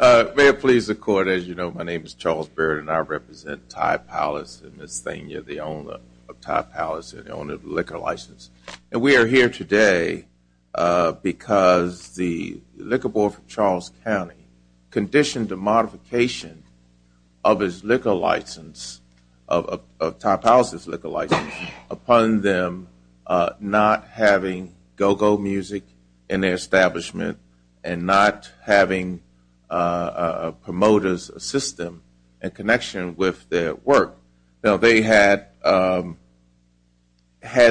May it please the Court, as you know, my name is Charles Baird and I represent Ty Powellis and Ms. Thane, the owner of Ty Powellis, the owner of the liquor license. And we are here today because the Liquor Board for Charles County conditioned the modification of his liquor license, of Ty Powellis' liquor license, upon them not having go-go music in their having promoters assist them in connection with their work. Now they had, had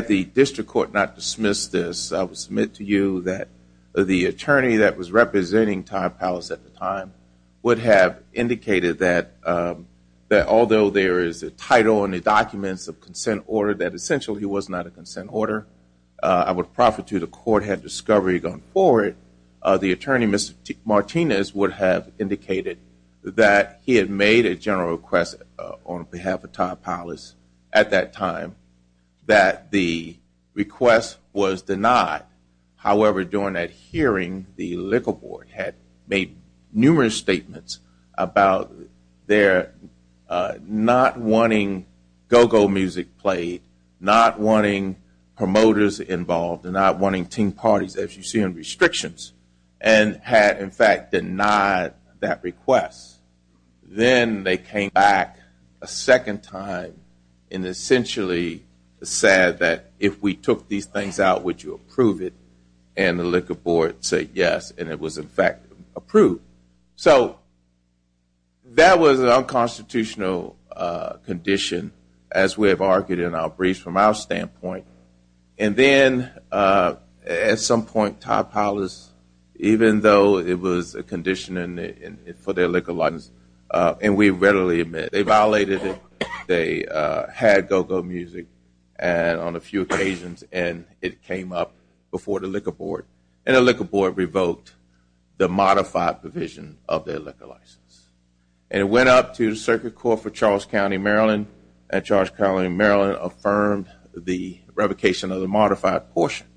the district court not dismissed this, I would submit to you that the attorney that was representing Ty Powellis at the time would have indicated that although there is a title in the documents of consent order that essentially was not a consent order, I would profit to the court had discovery gone forward, the attorney, Mr. Martinez, would have indicated that he had made a general request on behalf of Ty Powellis at that time that the request was denied. However, during that hearing, the Liquor Board had made numerous statements about their not wanting go-go music played, not wanting promoters involved, and not wanting parties, as you see in restrictions, and had in fact denied that request. Then they came back a second time and essentially said that if we took these things out, would you approve it? And the Liquor Board said yes, and it was in fact approved. So that was an unconstitutional condition as we have argued in our briefs from our standpoint. And then at some point Ty Powellis, even though it was a condition for their liquor license, and we readily admit they violated it, they had go-go music and on a few occasions, and it came up before the Liquor Board, and the Liquor Board revoked the modified provision of their liquor license. And it went up to the Circuit Court for Charles County, Maryland, and Charles County, Maryland affirmed the revocation of the modified portion.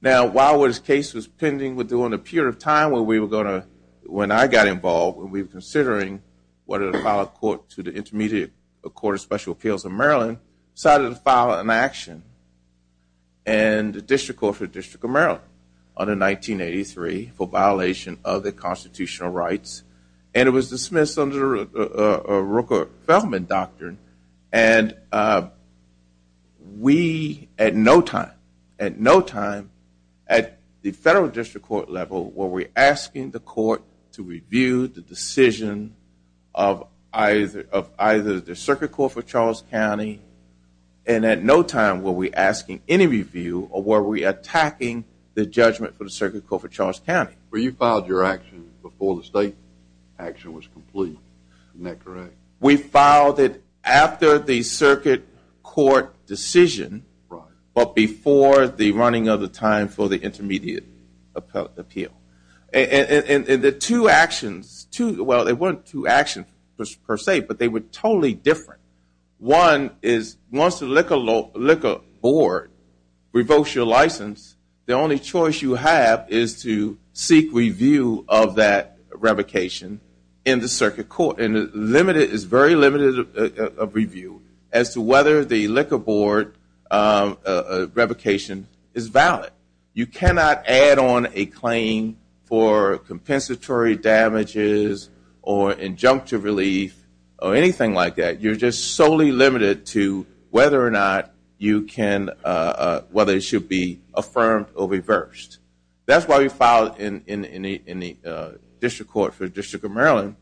Now while this case was pending, during a period of time when we were going to, when I got involved, when we were considering whether to file a court to the Intermediate Court of Special Appeals of Maryland, decided to file an action. And the District Court for the District of Maryland, under 1983, for the Constitutional Rights, and it was dismissed under the Rooker-Feldman Doctrine, and we at no time, at no time, at the Federal District Court level, were we asking the court to review the decision of either, of either the Circuit Court for Charles County, and at no time were we asking any review or were we attacking the judgment for the Circuit Court for Charles County before the state action was complete. Isn't that correct? We filed it after the Circuit Court decision, but before the running of the time for the Intermediate Appeal. And the two actions, well they weren't two actions per se, but they were totally different. One is once the Liquor Board revokes your license, the only choice you have is to seek review of that revocation in the Circuit Court. And it is very limited of review as to whether the Liquor Board revocation is valid. You cannot add on a claim for compensatory damages or injunctive relief or anything like that. You're just be affirmed or reversed. That's why we filed it in the District Court for the District of Maryland,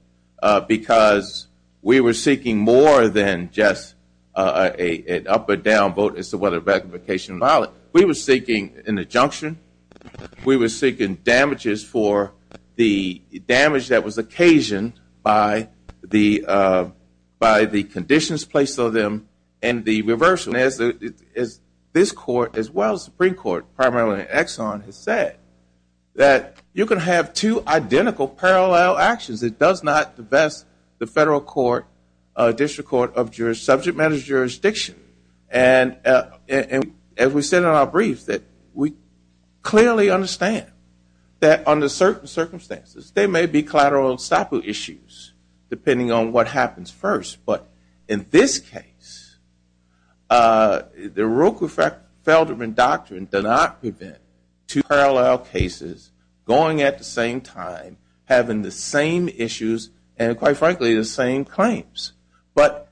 because we were seeking more than just an up or down vote as to whether revocation is valid. We were seeking an injunction. We were seeking damages for the damage that was occasioned by the conditions placed on them and the reversal. As this Court, as well as the Supreme Court, primarily Exxon, has said, that you can have two identical parallel actions. It does not divest the Federal Court, District Court of Subject Matters jurisdiction. And as we said in our brief, that we clearly understand that under certain circumstances there may be collateral and stipu issues, depending on what happens first. But in this case, the Ruckefeldman Doctrine did not prevent two parallel cases going at the same time, having the same issues, and quite frankly, the same claims. But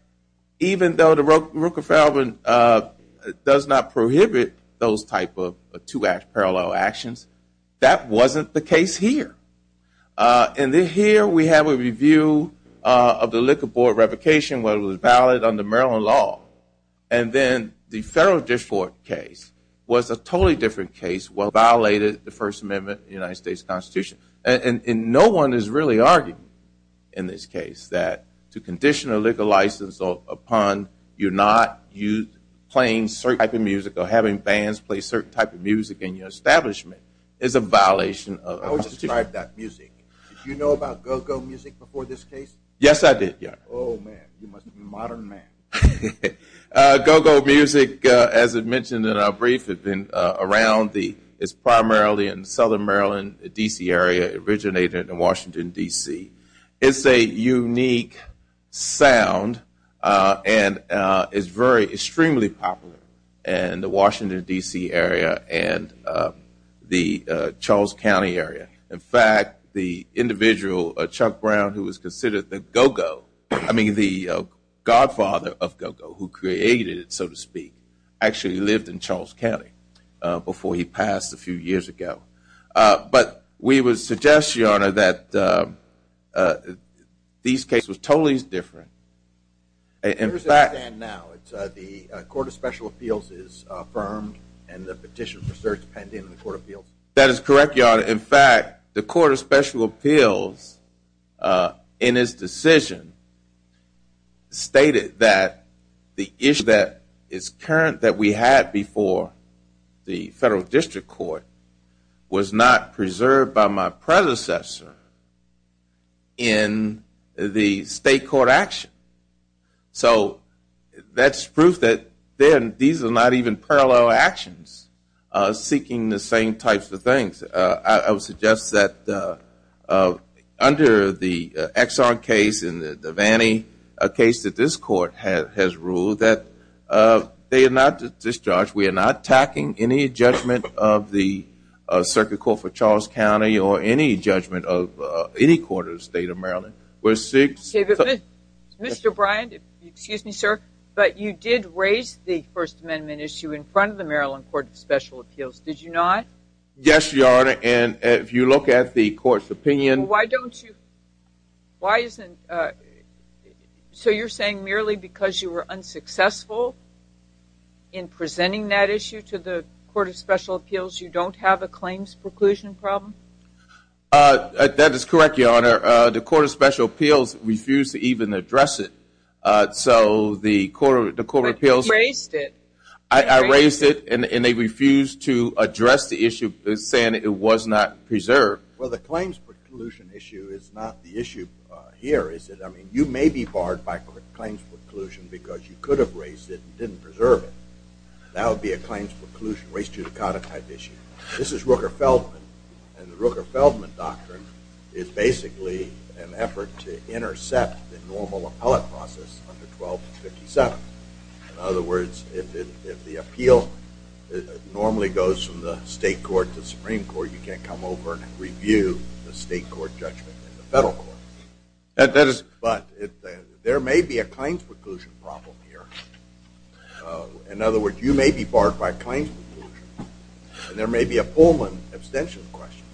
even though the Ruckefeldman does not prohibit those type of two parallel actions, that wasn't the case here. And here we have a review of the Liquor Board revocation, whether it was valid under Maryland law. And then the Federal District Court case was a totally different case, where it violated the First Amendment of the United States Constitution. And no one is really arguing in this case that to condition a liquor license upon you not playing a certain type of music or having bands play a certain type of music in your establishment is a violation of the Constitution. How would you describe that music? Did you know about go-go music before this case? Yes, I did. Oh, man. You must be a modern man. Go-go music, as I mentioned in our brief, is primarily in the Southern Maryland, D.C. area, originated in Washington, D.C. It's a unique sound and is extremely popular in the Washington, D.C. area and the Charles County area. In fact, the individual, Chuck Brown, who was considered the go-go, I mean the godfather of go-go, who created it, so to speak, actually lived in Charles County before he passed a few years ago. But we would suggest, Your Honor, that these cases were totally different. Where does it stand now? The Court of Special Appeals is affirmed and the petition for search pending in the Court of Appeals? That is correct, Your Honor. In fact, the Court of Special Appeals in its decision stated that the issue that is current, that we had before the Federal District Court, was not So that's proof that these are not even parallel actions seeking the same types of things. I would suggest that under the Exxon case and the Vannie case that this Court has ruled that they are not discharged. We are not tacking any judgment of the Circuit Court for Charles County or any judgment of any court of the State of Maryland. Mr. Bryant, excuse me, sir, but you did raise the First Amendment issue in front of the Maryland Court of Special Appeals, did you not? Yes, Your Honor, and if you look at the Court's opinion Why don't you, why isn't, so you're saying merely because you were unsuccessful in presenting that issue to the Court of Special Appeals, you don't have a claims preclusion problem? That is correct, Your Honor. The Court of Special Appeals refused to even address it. So the Court of Appeals raised it and they refused to address the issue saying it was not preserved. Well, the claims preclusion issue is not the issue here, is it? I mean, you may be barred by claims preclusion because you could have raised it and didn't preserve it. That would be a claims preclusion, race judicata type issue. This is Rooker-Feldman and the Rooker-Feldman doctrine is basically an effort to intercept the normal appellate process under 1257. In other words, if the appeal normally goes from the State Court to the Supreme Court, you can't come over and review the State Court judgment in the Federal Court. But there may be a claims preclusion problem here. In other words, you may be barred by claims preclusion and there may be a Pullman abstention question.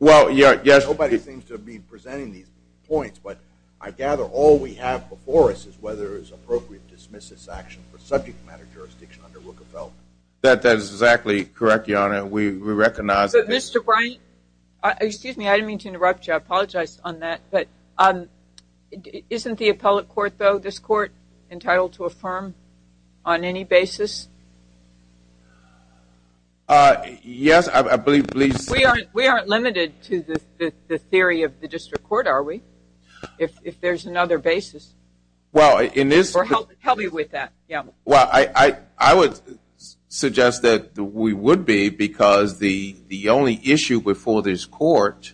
Well, yes. Nobody seems to be presenting these points, but I gather all we have before us is whether it's appropriate to dismiss this action for subject matter jurisdiction under Rooker-Feldman. That is exactly correct, Your Honor. We recognize that. Mr. Bryant, excuse me, I didn't mean to interrupt you. I apologize on that. But isn't the appellate court, though, this court, entitled to affirm on any basis? Yes, I believe so. We aren't limited to the theory of the District Court, are we? If there's another basis. Well, in this- Or help you with that, yeah. Well, I would suggest that we would be, because the only issue before this court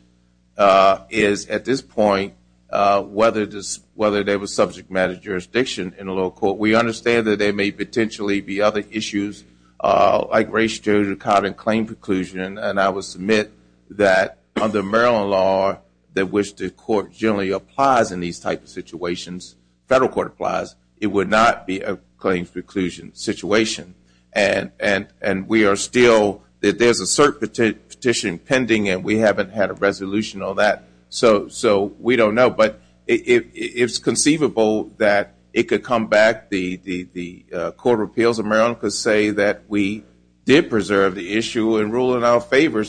is, at this point, whether there was subject matter jurisdiction in a lower court. We understand that there may potentially be other issues, like race, gender, color, and claim preclusion. And I would submit that under Maryland law, that which the court generally applies in these types of situations, Federal Court applies, it would not be a claim preclusion situation. And we are still, there's a cert petition pending, and we haven't had a resolution on that. So we don't know. But it's conceivable that it could come back. The Court of Appeals of Maryland could say that we did preserve the issue and rule in our favor.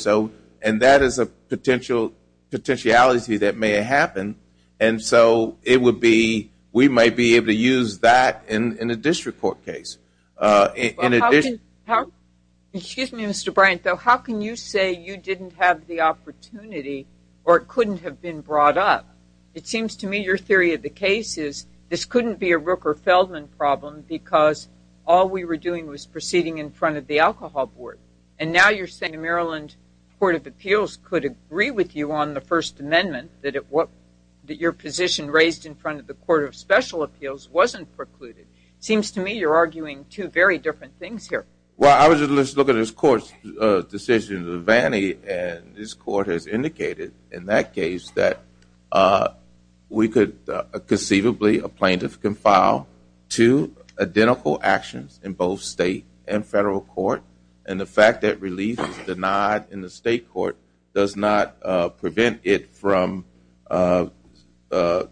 And that is a potential potentiality that may have happened. And so it would be, we might be able to use that in a District Court case. In addition- Excuse me, Mr. Bryant, though, how can you say you didn't have the opportunity, or it couldn't have been brought up? It seems to me your theory of the case is, this couldn't be a Rooker-Feldman problem, because all we were doing was proceeding in front of the Alcohol Board. And now you're saying the Maryland Court of Appeals could agree with you on the First Amendment, that your position raised in front of the Court of Special Appeals wasn't precluded. Seems to me you're arguing two very different things here. Well, I was just looking at this Court's decision, the Vannie, and this Court has indicated in that case that we could conceivably, a plaintiff can file two identical actions in both State and Federal Courts to prevent it from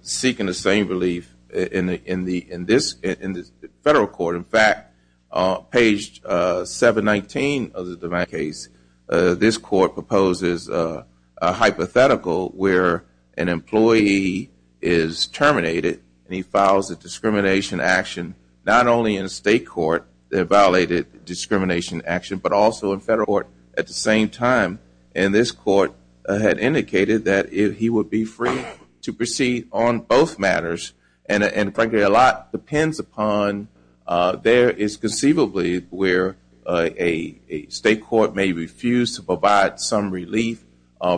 seeking the same relief in the Federal Court. In fact, page 719 of the Vannie case, this Court proposes a hypothetical where an employee is terminated and he files a discrimination action, not only in a State Court, a violated discrimination action, but also in Federal Court at the same time. And this Court had indicated that he would be free to proceed on both matters. And frankly, a lot depends upon, there is conceivably where a State Court may refuse to provide some relief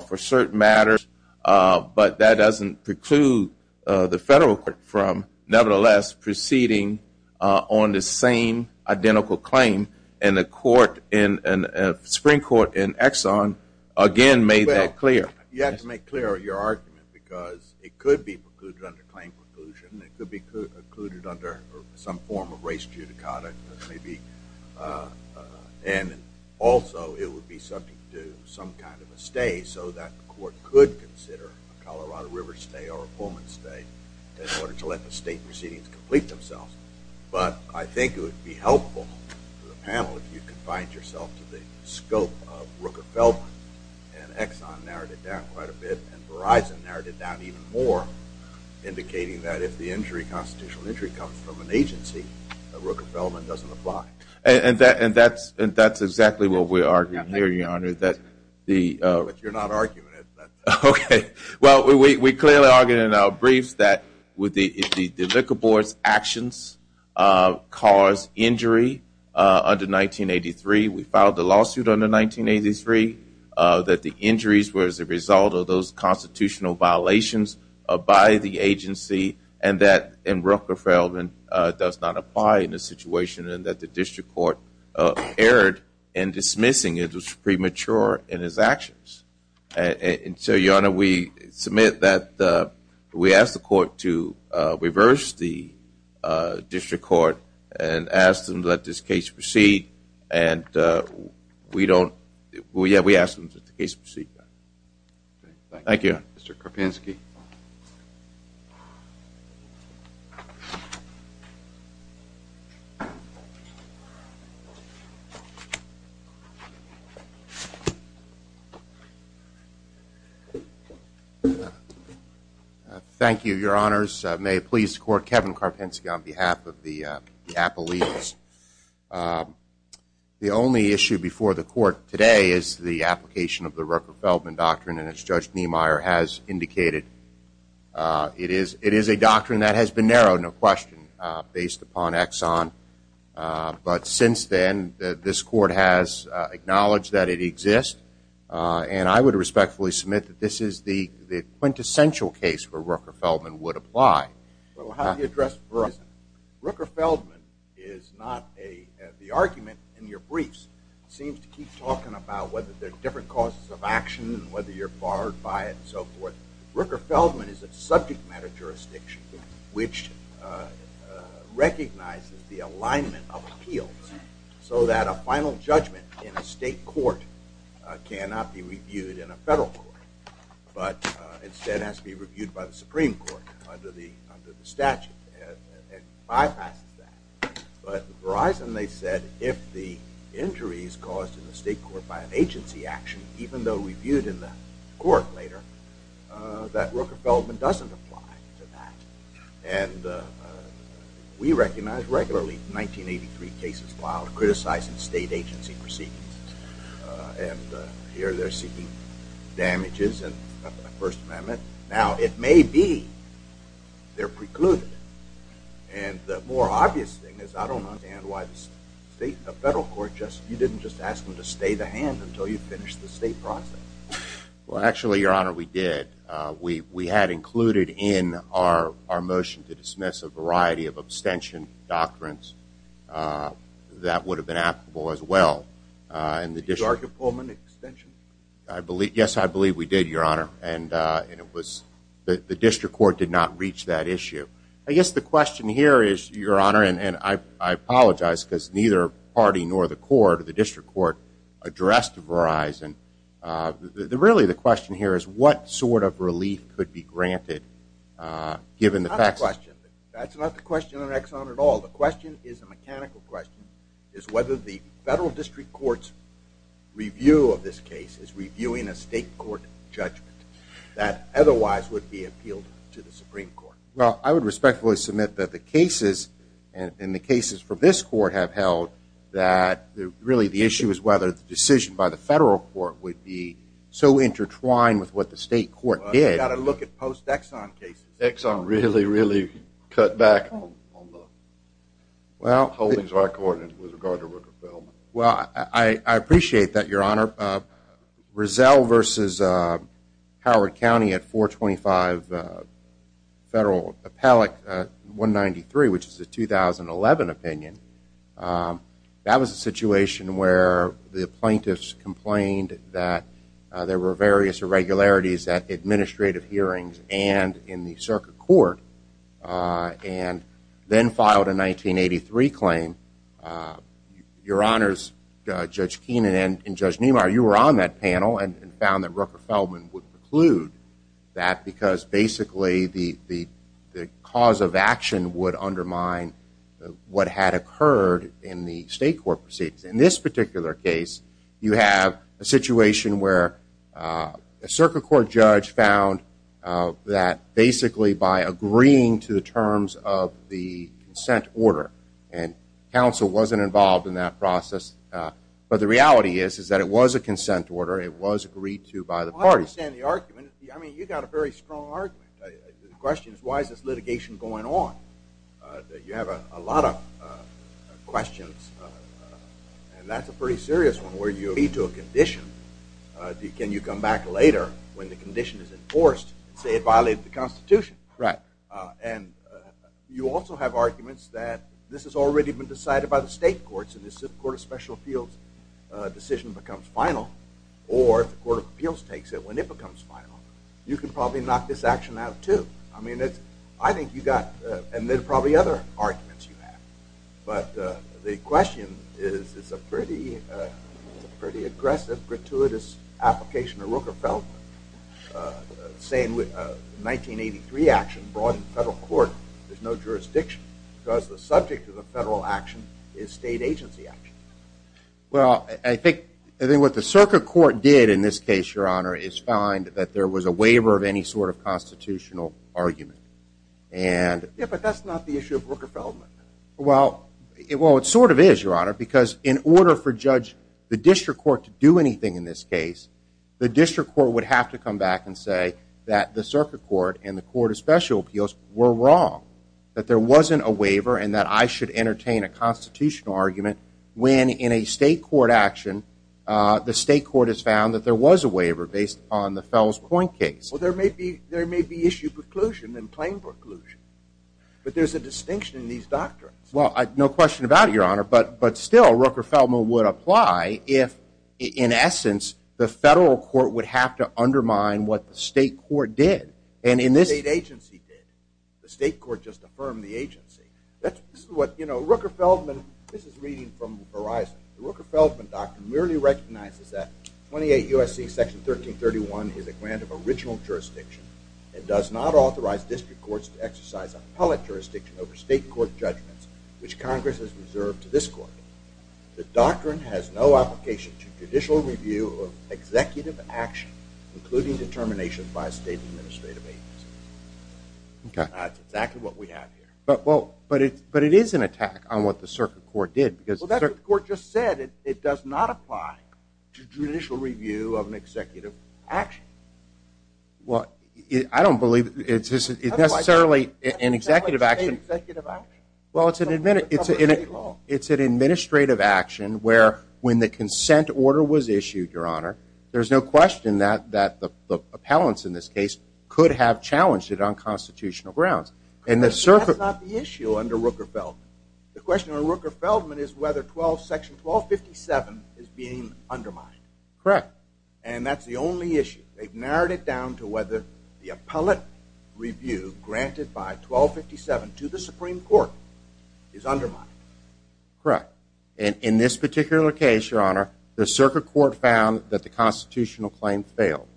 for certain matters, but that doesn't preclude the Federal Court from nevertheless proceeding on the same identical claim. And the Supreme Court in Exxon again made that clear. You have to make clear your argument because it could be precluded under claim preclusion, it could be precluded under some form of race judicata, and also it would be subject to some kind of a stay so that the Court could consider a Colorado River stay or a Pullman stay in order to let the State proceedings complete themselves. But I think it would be helpful to the panel if you could find yourself to the scope of Rooker-Feldman, and Exxon narrowed it down quite a bit, and Verizon narrowed it down even more, indicating that if the injury, constitutional injury comes from an agency, that Rooker-Feldman doesn't apply. And that's exactly what we're arguing here, Your Honor. But you're not arguing it. Okay. Well, we clearly argued in our briefs that the liquor board's actions caused injury under 1983. We filed a lawsuit under 1983 that the injuries were as a result of those constitutional violations by the agency, and that in Rooker-Feldman does not apply in this situation, and that the District Court erred in dismissing it in his actions. And so, Your Honor, we submit that we ask the Court to reverse the District Court and ask them to let this case proceed, and we don't – well, yeah, we ask them to let the case proceed. Okay. Thank you. Thank you, Mr. Karpinski. Thank you, Your Honors. May it please the Court, Kevin Karpinski on behalf of the Rooker-Feldman Doctrine, and as Judge Niemeyer has indicated, it is a doctrine that has been narrowed, no question, based upon Exxon. But since then, this Court has acknowledged that it exists, and I would respectfully submit that this is the quintessential case where Rooker-Feldman would apply. Well, how do you address Rooker-Feldman? Rooker-Feldman is not a – the whether you're barred by it and so forth, Rooker-Feldman is a subject matter jurisdiction which recognizes the alignment of appeals so that a final judgment in a state court cannot be reviewed in a federal court, but instead has to be reviewed by the Supreme Court under the statute, and bypasses that. But in Verizon, they said if the injury is caused in court later, that Rooker-Feldman doesn't apply to that. And we recognize regularly 1983 cases filed criticizing state agency proceedings, and here they're seeking damages in the First Amendment. Now, it may be they're precluded, and the more obvious thing is I don't understand why the federal court just – you didn't just ask them to stay the hand until you finished the state process. Well, actually, Your Honor, we did. We had included in our motion to dismiss a variety of abstention doctrines that would have been applicable as well. And the district – Did you argue Pullman extension? Yes, I believe we did, Your Honor. And it was – the district court did not reach that issue. I guess the question here is, Your Honor, and I apologize because neither party nor the court, the district court, addressed Verizon. Really, the question here is what sort of relief could be granted given the facts? That's not the question. That's not the question on Exxon at all. The question is a mechanical question, is whether the federal district court's review of this case is reviewing a state court judgment that otherwise would be appealed to the Supreme Court. Well, I would respectfully submit that the cases for this court have held that really the issue is whether the decision by the federal court would be so intertwined with what the state court did. Well, you've got to look at post-Exxon cases. Exxon really, really cut back on the holdings of our court with regard to Rooker-Feldman. Well, I appreciate that, Your Honor. Rizal versus Howard County at 425 Federal Appellate 193, which is a 2011 opinion, that was a situation where the plaintiffs complained that there were various irregularities at administrative hearings and in the circuit court and then filed a 1983 claim. Your Honors, Judge Keenan and Judge Neumar, you were on that the cause of action would undermine what had occurred in the state court proceedings. In this particular case, you have a situation where a circuit court judge found that basically by agreeing to the terms of the consent order, and counsel wasn't involved in that process, but the reality is that it was a consent order. It was agreed to by the parties. I mean, you've got a very strong argument. The question is, why is this litigation going on? You have a lot of questions, and that's a pretty serious one, where you lead to a condition. Can you come back later when the condition is enforced and say it violated the Constitution? Right. And you also have arguments that this has already been decided by the state courts, and this court of special appeals decision becomes final, or if the court of appeals takes it when it becomes final, you can probably knock this action out, too. I mean, I think you got, and there are probably other arguments you have, but the question is, it's a pretty aggressive, gratuitous application of Rooker-Feldman, saying with a 1983 action brought in federal court, there's no jurisdiction because the subject of the federal action is state agency action. Well, I think what the circuit court did in this case, Your Honor, is find that there was a waiver of any sort of constitutional argument. Yeah, but that's not the issue of Rooker-Feldman. Well, it sort of is, Your Honor, because in order for the district court to do anything in this case, the district court would have to come back and say that the circuit court and the court of special appeals were wrong, that there wasn't a waiver and that I should entertain a constitutional argument when in a state court action, the state court has found that there was a waiver based on the Fells-Coin case. Well, there may be issue preclusion and plain preclusion, but there's a distinction in these doctrines. Well, no question about it, Your Honor, but still, Rooker-Feldman would apply if, in essence, the federal court would have to undermine what the state court did. The state court just affirmed the agency. That's what, you know, Rooker-Feldman, this is reading from Verizon, the Rooker-Feldman doctrine merely recognizes that 28 U.S.C. Section 1331 is a grant of original jurisdiction and does not authorize district courts to exercise appellate jurisdiction over state court judgments, which Congress has reserved to this court. The doctrine has no application to judicial review of executive action, including determination by a state administrative agency. Okay. That's exactly what we have here. But it is an attack on what the circuit court did. Well, that's what the court just said. It does not apply to judicial review of an executive action. Well, I don't believe it's necessarily an executive action. Well, it's an administrative action where when the consent order was issued, Your Honor, there's no question that the appellants in this case could have challenged it on constitutional grounds. That's not the issue under Rooker-Feldman. The question on Rooker-Feldman is whether 12 Section 1257 is being undermined. Correct. And that's the only issue. They've narrowed it down to whether the appellate review granted by 1257 to the Supreme Court is undermined. Correct. And in this particular case, Your Honor, the circuit court found that the constitutional claim failed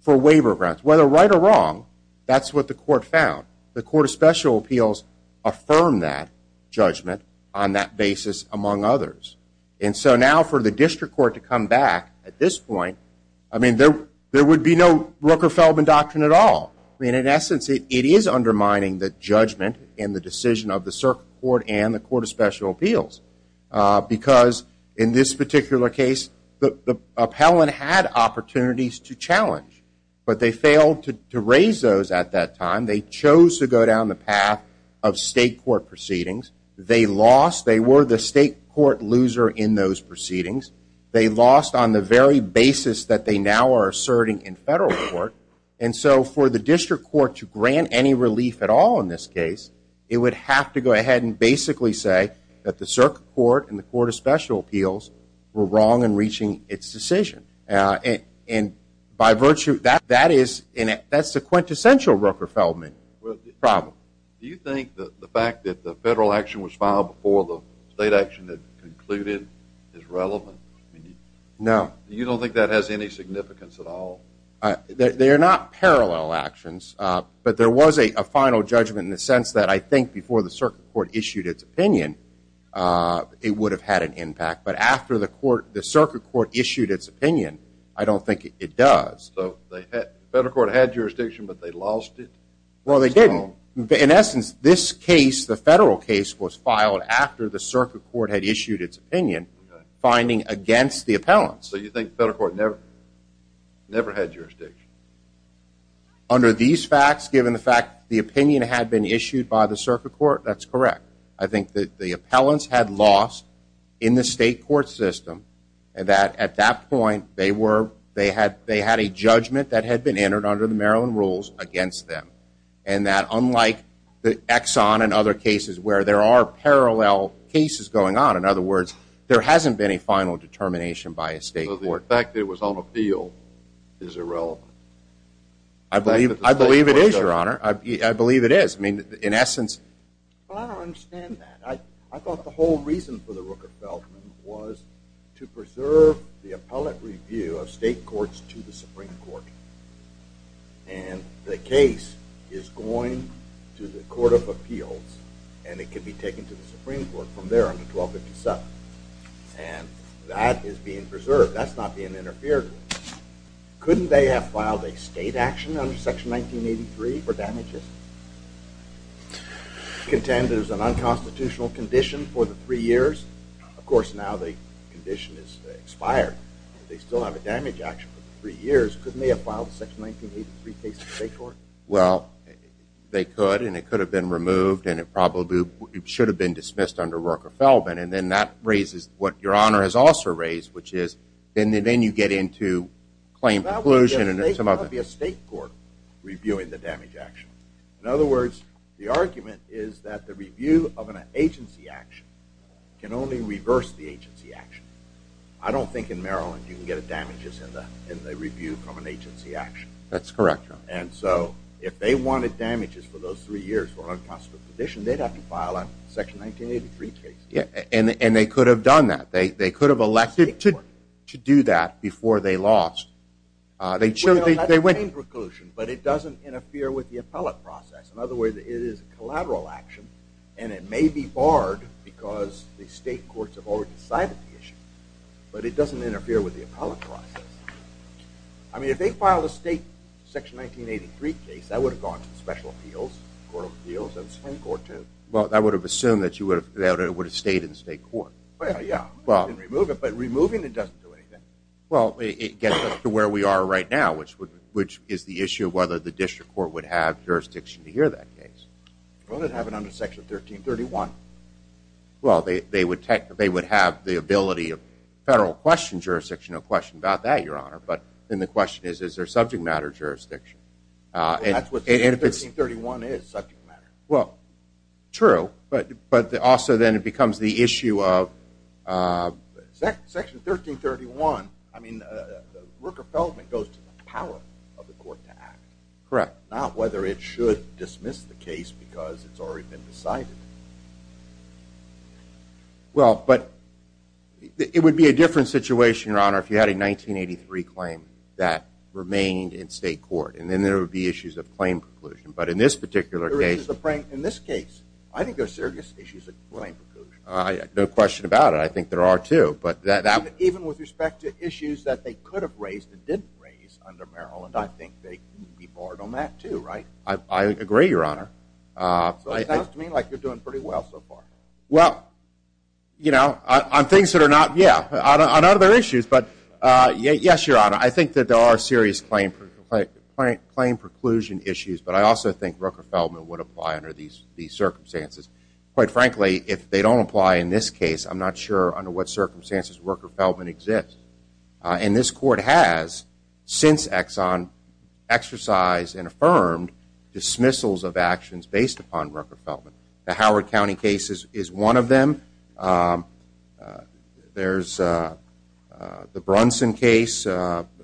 for waiver grounds. Whether right or wrong, that's what the court found. The Court of Special Appeals affirmed that judgment on that basis among others. And so now for the district court to come back at this point, I mean, there would be no Rooker-Feldman doctrine at all. I mean, in essence, it is undermining the judgment in the decision of the circuit court and the challenge. But they failed to raise those at that time. They chose to go down the path of state court proceedings. They lost. They were the state court loser in those proceedings. They lost on the very basis that they now are asserting in federal court. And so for the district court to grant any relief at all in this case, it would have to go ahead and basically say that the by virtue of that, that is the quintessential Rooker-Feldman problem. Do you think that the fact that the federal action was filed before the state action that concluded is relevant? No. You don't think that has any significance at all? They are not parallel actions. But there was a final judgment in the sense that I think before the circuit court issued its opinion, it would have had an impact. But after the circuit court issued its opinion, I don't think it does. So the federal court had jurisdiction, but they lost it? Well, they didn't. In essence, this case, the federal case, was filed after the circuit court had issued its opinion, finding against the appellants. So you think federal court never had jurisdiction? Under these facts, given the fact the opinion had been issued by the circuit court, that's correct. I think that the appellants had lost in the state court system and that at that point, they had a judgment that had been entered under the Maryland rules against them. And that unlike the Exxon and other cases where there are parallel cases going on, in other words, there hasn't been a final determination by a state court. So the fact it was on appeal is irrelevant? I believe it is, Your Honor. I believe it is. I mean, in essence. Well, I don't understand that. I thought the whole reason for the Rooker-Feldman was to preserve the appellate review of state courts to the Supreme Court. And the case is going to the Court of Appeals, and it can be taken to the Supreme Court from there on to 1257. And that is being preserved. That's not being interfered with. Couldn't they have filed a state action under Section 1983 for damages? Contend there's an unconstitutional condition for the three years? Of course, now the condition is expired. They still have a damage action for three years. Couldn't they have filed a Section 1983 case in the state court? Well, they could, and it could have been removed, and it probably should have been dismissed under Rooker-Feldman. And then that raises what Your Honor has also raised, which is, then you get into claim conclusion and some other... That would be a state court reviewing the damage action. In other words, the argument is that the review of an agency action can only reverse the agency action. I don't think in Maryland you can get damages in the review from an agency action. That's correct, Your Honor. And so if they wanted damages for those three years for an unconstitutional condition, they'd have to file a Section 1983 case. Yeah, and they could have done that. They could have elected to do that before they lost. They'd show that they went... Well, that's a claim conclusion, but it doesn't interfere with the appellate process. In other words, it is a collateral action, and it may be barred because the state courts have already decided the issue, but it doesn't interfere with the appellate process. I mean, if they filed a state Section 1983 case, that would have gone to the special appeals, court of appeals, and Supreme Court, too. Well, that would have assumed that it would have stayed in the state court. Well, yeah. It didn't remove it, but removing it doesn't do anything. Well, it gets us to where we are right now, which is the issue of whether the district court would have jurisdiction to hear that case. Well, they'd have it under Section 1331. Well, they would have the ability of federal question jurisdiction. No question about that, Your Honor. But then the question is, is there subject matter jurisdiction? That's what Section 1331 is, subject matter. Well, true, but also then it becomes the issue of... Section 1331, I mean, Rooker-Feldman goes to the power of the court to act. Correct. Not whether it should dismiss the case because it's already been decided. Well, but it would be a different situation, Your Honor, if you had a 1983 claim that remained in state court, and then there would be issues of claim preclusion. But in this particular case... In this case, I think there's serious issues of claim preclusion. No question about it. I think there are, too, but that... Even with respect to issues that they could have raised and didn't raise under Maryland, I think they'd be barred on that, too, right? I agree, Your Honor. So it sounds to me like you're doing pretty well so far. Well, you know, on things that are not... Yeah, on other issues, but yes, Your Honor. I think that there are serious claim preclusion issues, but I also think Rooker-Feldman would apply under these circumstances. Quite frankly, if they don't apply in this case, I'm not sure under what circumstances Rooker-Feldman exists. And this Court has, since Exxon, exercised and affirmed dismissals of actions based upon Rooker-Feldman. The Howard County case is one of them. There's the Brunson case,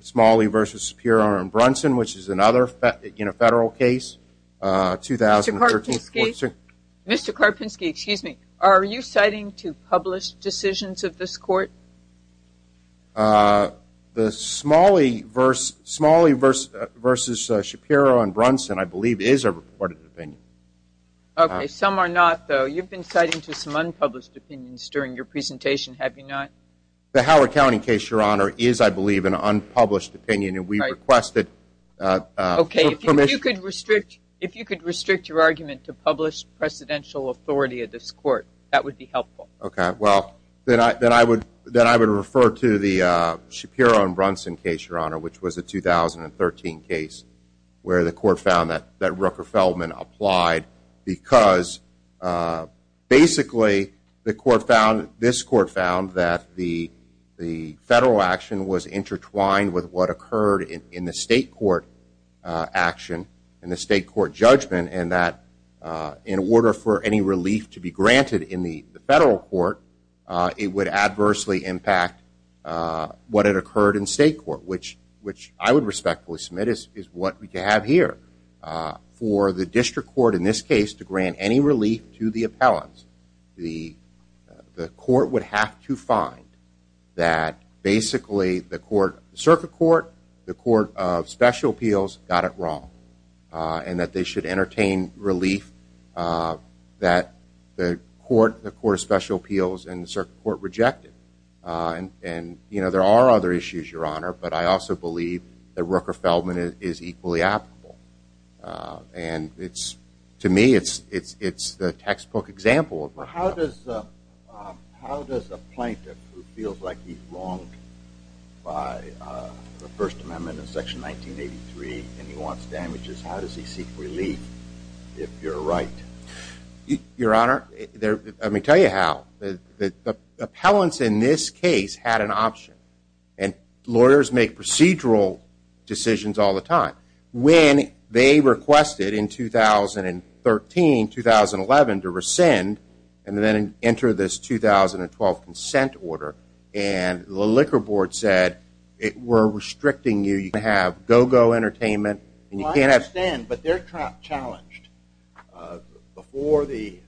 Smalley v. Superior v. Brunson, which is another federal case. Mr. Karpinski, excuse me, are you citing to publish decisions of this Court? The Smalley v. Superior v. Brunson, I believe, is a reported opinion. Okay, some are not, though. You've been citing to some unpublished opinions during your presentation, have you not? The Howard County case, Your Honor, is, I believe, an unpublished opinion, and we requested... Okay, if you could restrict your argument to publish presidential authority of this Court, that would be helpful. Okay, well, then I would refer to the Shapiro v. Brunson case, Your Honor, which was a 2013 case where the Court found that Rooker-Feldman applied because, basically, this Court found that the federal action was intertwined with what occurred in the state court action, in the state court judgment, and that in order for any relief to be granted in the federal court, it would adversely impact what had occurred in state court, which I would respectfully submit is what we have here. For the district court, in this case, to grant any relief to the appellants, the court would have to find that, basically, the circuit court, the court of special appeals, got it wrong, and that they should entertain relief that the court of special appeals and the circuit court rejected. And, you know, there are other issues, Your Honor, but I also believe that Rooker-Feldman is equally applicable, and it's, to me, it's the textbook example. But how does a plaintiff who feels like he's wronged by the First Amendment in Section 1983 and he wants damages, how does he seek relief, if you're right? Your Honor, let me tell you how. The appellants in this case had an option, and lawyers make procedural decisions all the time. When they requested in 2013-2011 to rescind and then enter this 2012 consent order, and the Liquor Board said, we're restricting you, you can't have go-go entertainment, and you can't have... Well, I understand, but they're challenged. Before the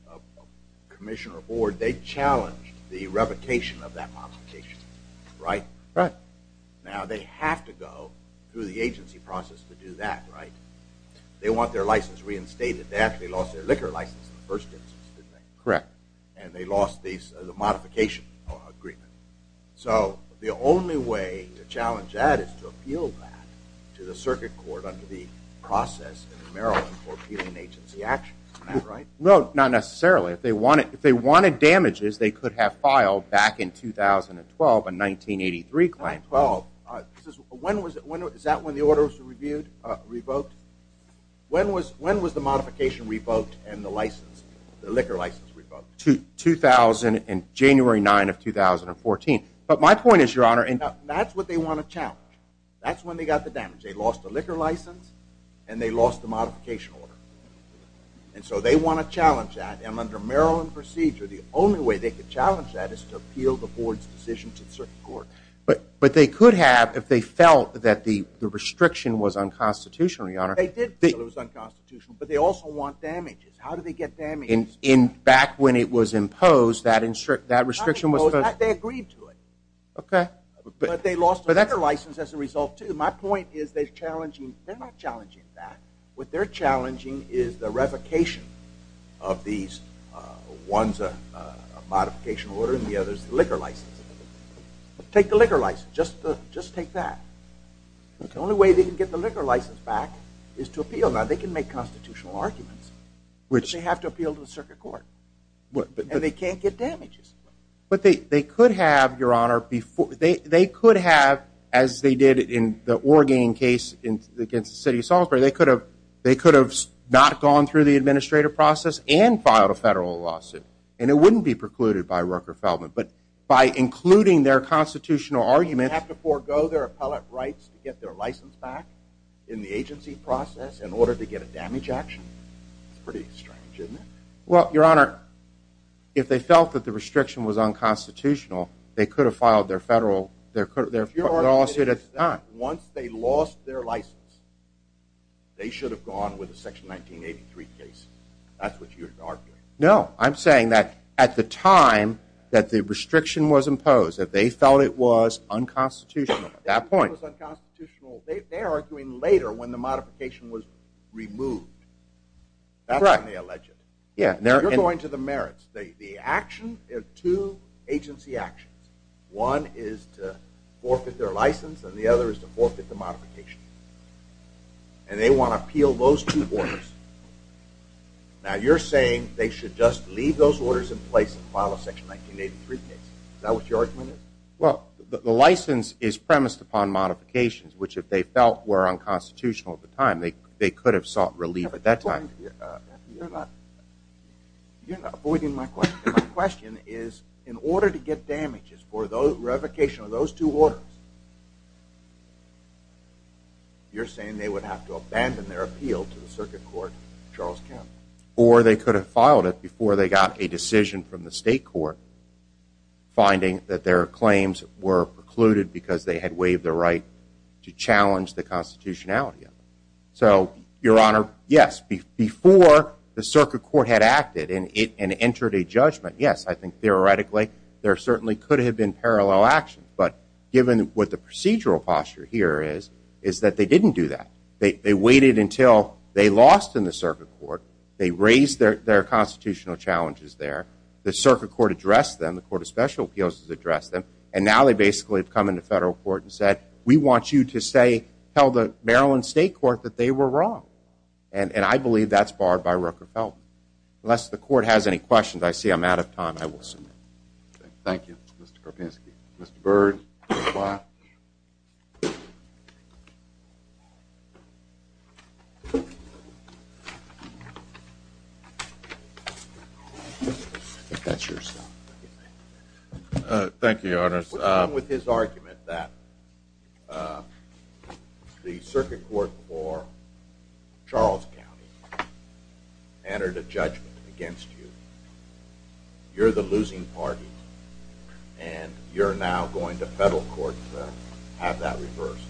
Commissioner Board, they challenged the revocation of that modification, right? Right. Now, they have to go through the agency process to do that, right? They want their license reinstated. They actually lost their liquor license in the first instance, didn't they? Correct. And they lost the modification agreement. So the only way to challenge that is to appeal to the Circuit Court under the process in Maryland for appealing agency action. Is that right? No, not necessarily. If they wanted damages, they could have filed back in 2012, a 1983 claim. 1912. Is that when the order was revoked? When was the modification revoked and the liquor license revoked? January 9 of 2014. But my point is, Your Honor, that's what they want to challenge. That's when they got the damage. They lost the liquor license and they lost the modification order. And so they want to challenge that. And under Maryland procedure, the only way they could challenge that is to appeal the Board's decision to the Circuit Court. But they could have if they felt that the restriction was unconstitutional, Your Honor. They did feel it was unconstitutional, but they also want damages. How do they get damages? In back when it was imposed, that restriction was supposed to... They agreed to it. Okay. But they lost the liquor license as a result, too. My point is, they're not challenging that. What they're challenging is the revocation of these, one's a modification order and the other's the liquor license. Take the liquor license. Just take that. The only way they can get the liquor license back is to appeal. Now, they can make constitutional arguments, but they have to appeal to the Circuit Court. And they can't get damages. But they could have, Your Honor, they could have, as they did in the Orgain case against the City of Salisbury, they could have not gone through the administrative process and filed a federal lawsuit. And it wouldn't be precluded by Rooker-Feldman. But by including their constitutional argument... They have to forego their appellate rights to get their license back in the agency process in order to get a damage action? It's pretty strange, isn't it? Well, Your Honor, if they felt that the restriction was unconstitutional, they could have filed their federal, their lawsuit at the time. Once they lost their license, they should have gone with the Section 1983 case. That's what you're arguing. No, I'm saying that at the time that the restriction was imposed, that they felt it was unconstitutional at that point. It was unconstitutional, they're arguing later when the modification was removed. Correct. That's when they allege it. They're going to the merits. The action, there are two agency actions. One is to forfeit their license, and the other is to forfeit the modification. And they want to appeal those two orders. Now, you're saying they should just leave those orders in place and file a Section 1983 case. Is that what your argument is? Well, the license is premised upon modifications, which if they felt were unconstitutional at the time, they could have sought relief at that time. You're not avoiding my question. My question is, in order to get damages for the revocation of those two orders, you're saying they would have to abandon their appeal to the Circuit Court of Charles County? Or they could have filed it before they got a decision from the state court, finding that their claims were precluded because they had waived the right to challenge the constitutionality of it. So, Your Honor, yes. Before the Circuit Court had acted and entered a judgment, yes, I think theoretically there certainly could have been parallel action. But given what the procedural posture here is, is that they didn't do that. They waited until they lost in the Circuit Court. They raised their constitutional challenges there. The Circuit Court addressed them. The Court of Special Appeals addressed them. And now they basically have come into federal court and said, we want you to say, tell the Maryland State Court that they were wrong. And I believe that's barred by Rooker-Feldman. Unless the court has any questions, I see I'm out of time. I will submit. Thank you, Mr. Karpinski. Mr. Byrd. Thank you, Your Honor. With his argument that the Circuit Court for Charles County entered a judgment against you, you're the losing party. And you're now going to federal court to have that reversed.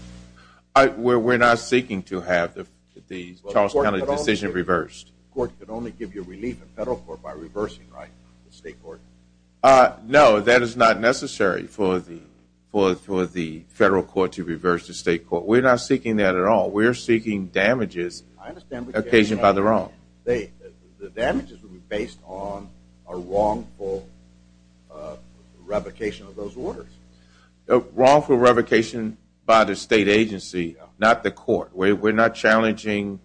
We're not seeking to have the Charles County decision reversed. Court could only give you relief in federal court by reversing the state court. No, that is not necessary for the federal court to reverse the state court. We're not seeking that at all. We're seeking damages occasioned by the wrong. The damages would be based on a wrongful revocation of those orders. Wrongful revocation by the state agency, not the court. We're not challenging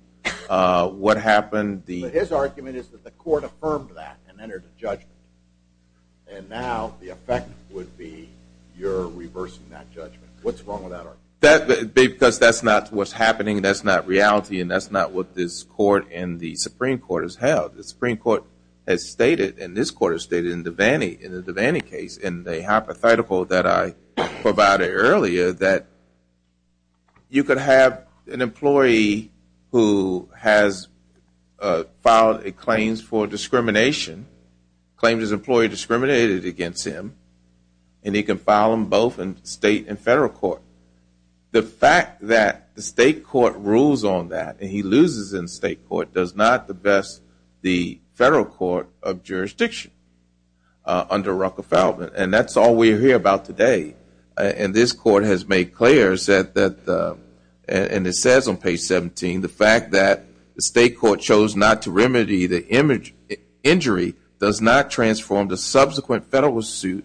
what happened. His argument is that the court affirmed that and entered a judgment. And now the effect would be you're reversing that judgment. What's wrong with that argument? Because that's not what's happening. That's not reality. And that's not what this court and the Supreme Court has held. The Supreme Court has stated, and this court has stated, in the Devaney case, in the hypothetical that I provided earlier, that you could have an employee who has filed a claim for discrimination, claimed his employee discriminated against him, and he can file them both in state and federal court. The fact that the state court rules on that and he loses in state court does not best the federal court of jurisdiction under Rucker-Feldman. And that's all we hear about today. And this court has made clear, and it says on page 17, the fact that the state court chose not to remedy the injury does not transform the subsequent federal suit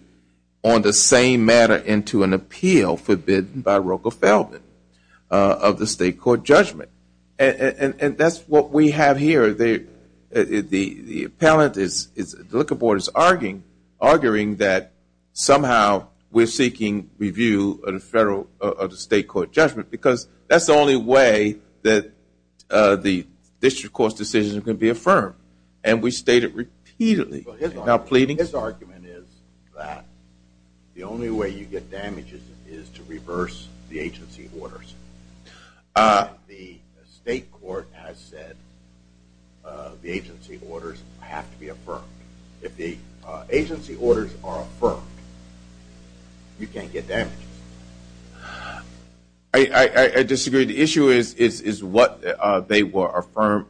on the same matter into an appeal forbidden by Rucker-Feldman of the state court judgment. And that's what we have here. The appellant, the looking board is arguing that somehow we're seeking review of the state court judgment. Because that's the only way that the district court's decision can be affirmed. And we state it repeatedly. His argument is that the only way you get damages is to reverse the agency orders. And the state court has said the agency orders have to be affirmed. If the agency orders are affirmed, you can't get damages. I disagree. The issue is what they were affirmed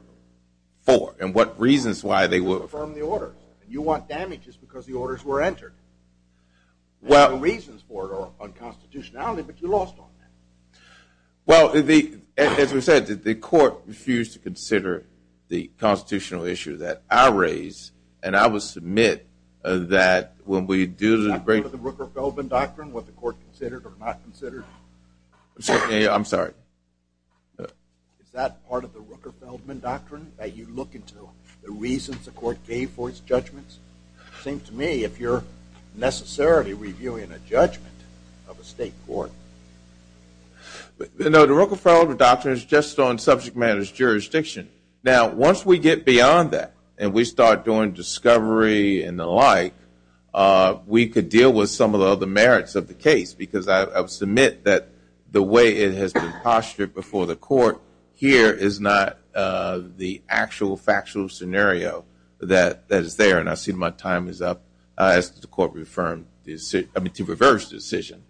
for and what reasons why they were affirmed. You want damages because the orders were entered. There are reasons for it on constitutionality, but you lost on that. Well, as we said, the court refused to consider the constitutional issue that I raised. And I will submit that when we do the break- Is that part of the Rucker-Feldman doctrine, what the court considered or not considered? I'm sorry. Is that part of the Rucker-Feldman doctrine that you look into, the reasons the court gave for its necessarily reviewing a judgment of a state court? No, the Rucker-Feldman doctrine is just on subject matter's jurisdiction. Now, once we get beyond that and we start doing discovery and the like, we could deal with some of the other merits of the case. Because I would submit that the way it has been postured before the court here is not the actual factual scenario that is there. And I see my time is up as the decision- I mean, to reverse the decision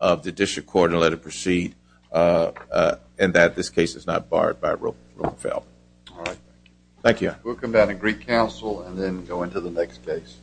of the district court and let it proceed and that this case is not barred by Roker-Feldman. All right. Thank you. We'll come down to Greek Council and then go into the next case.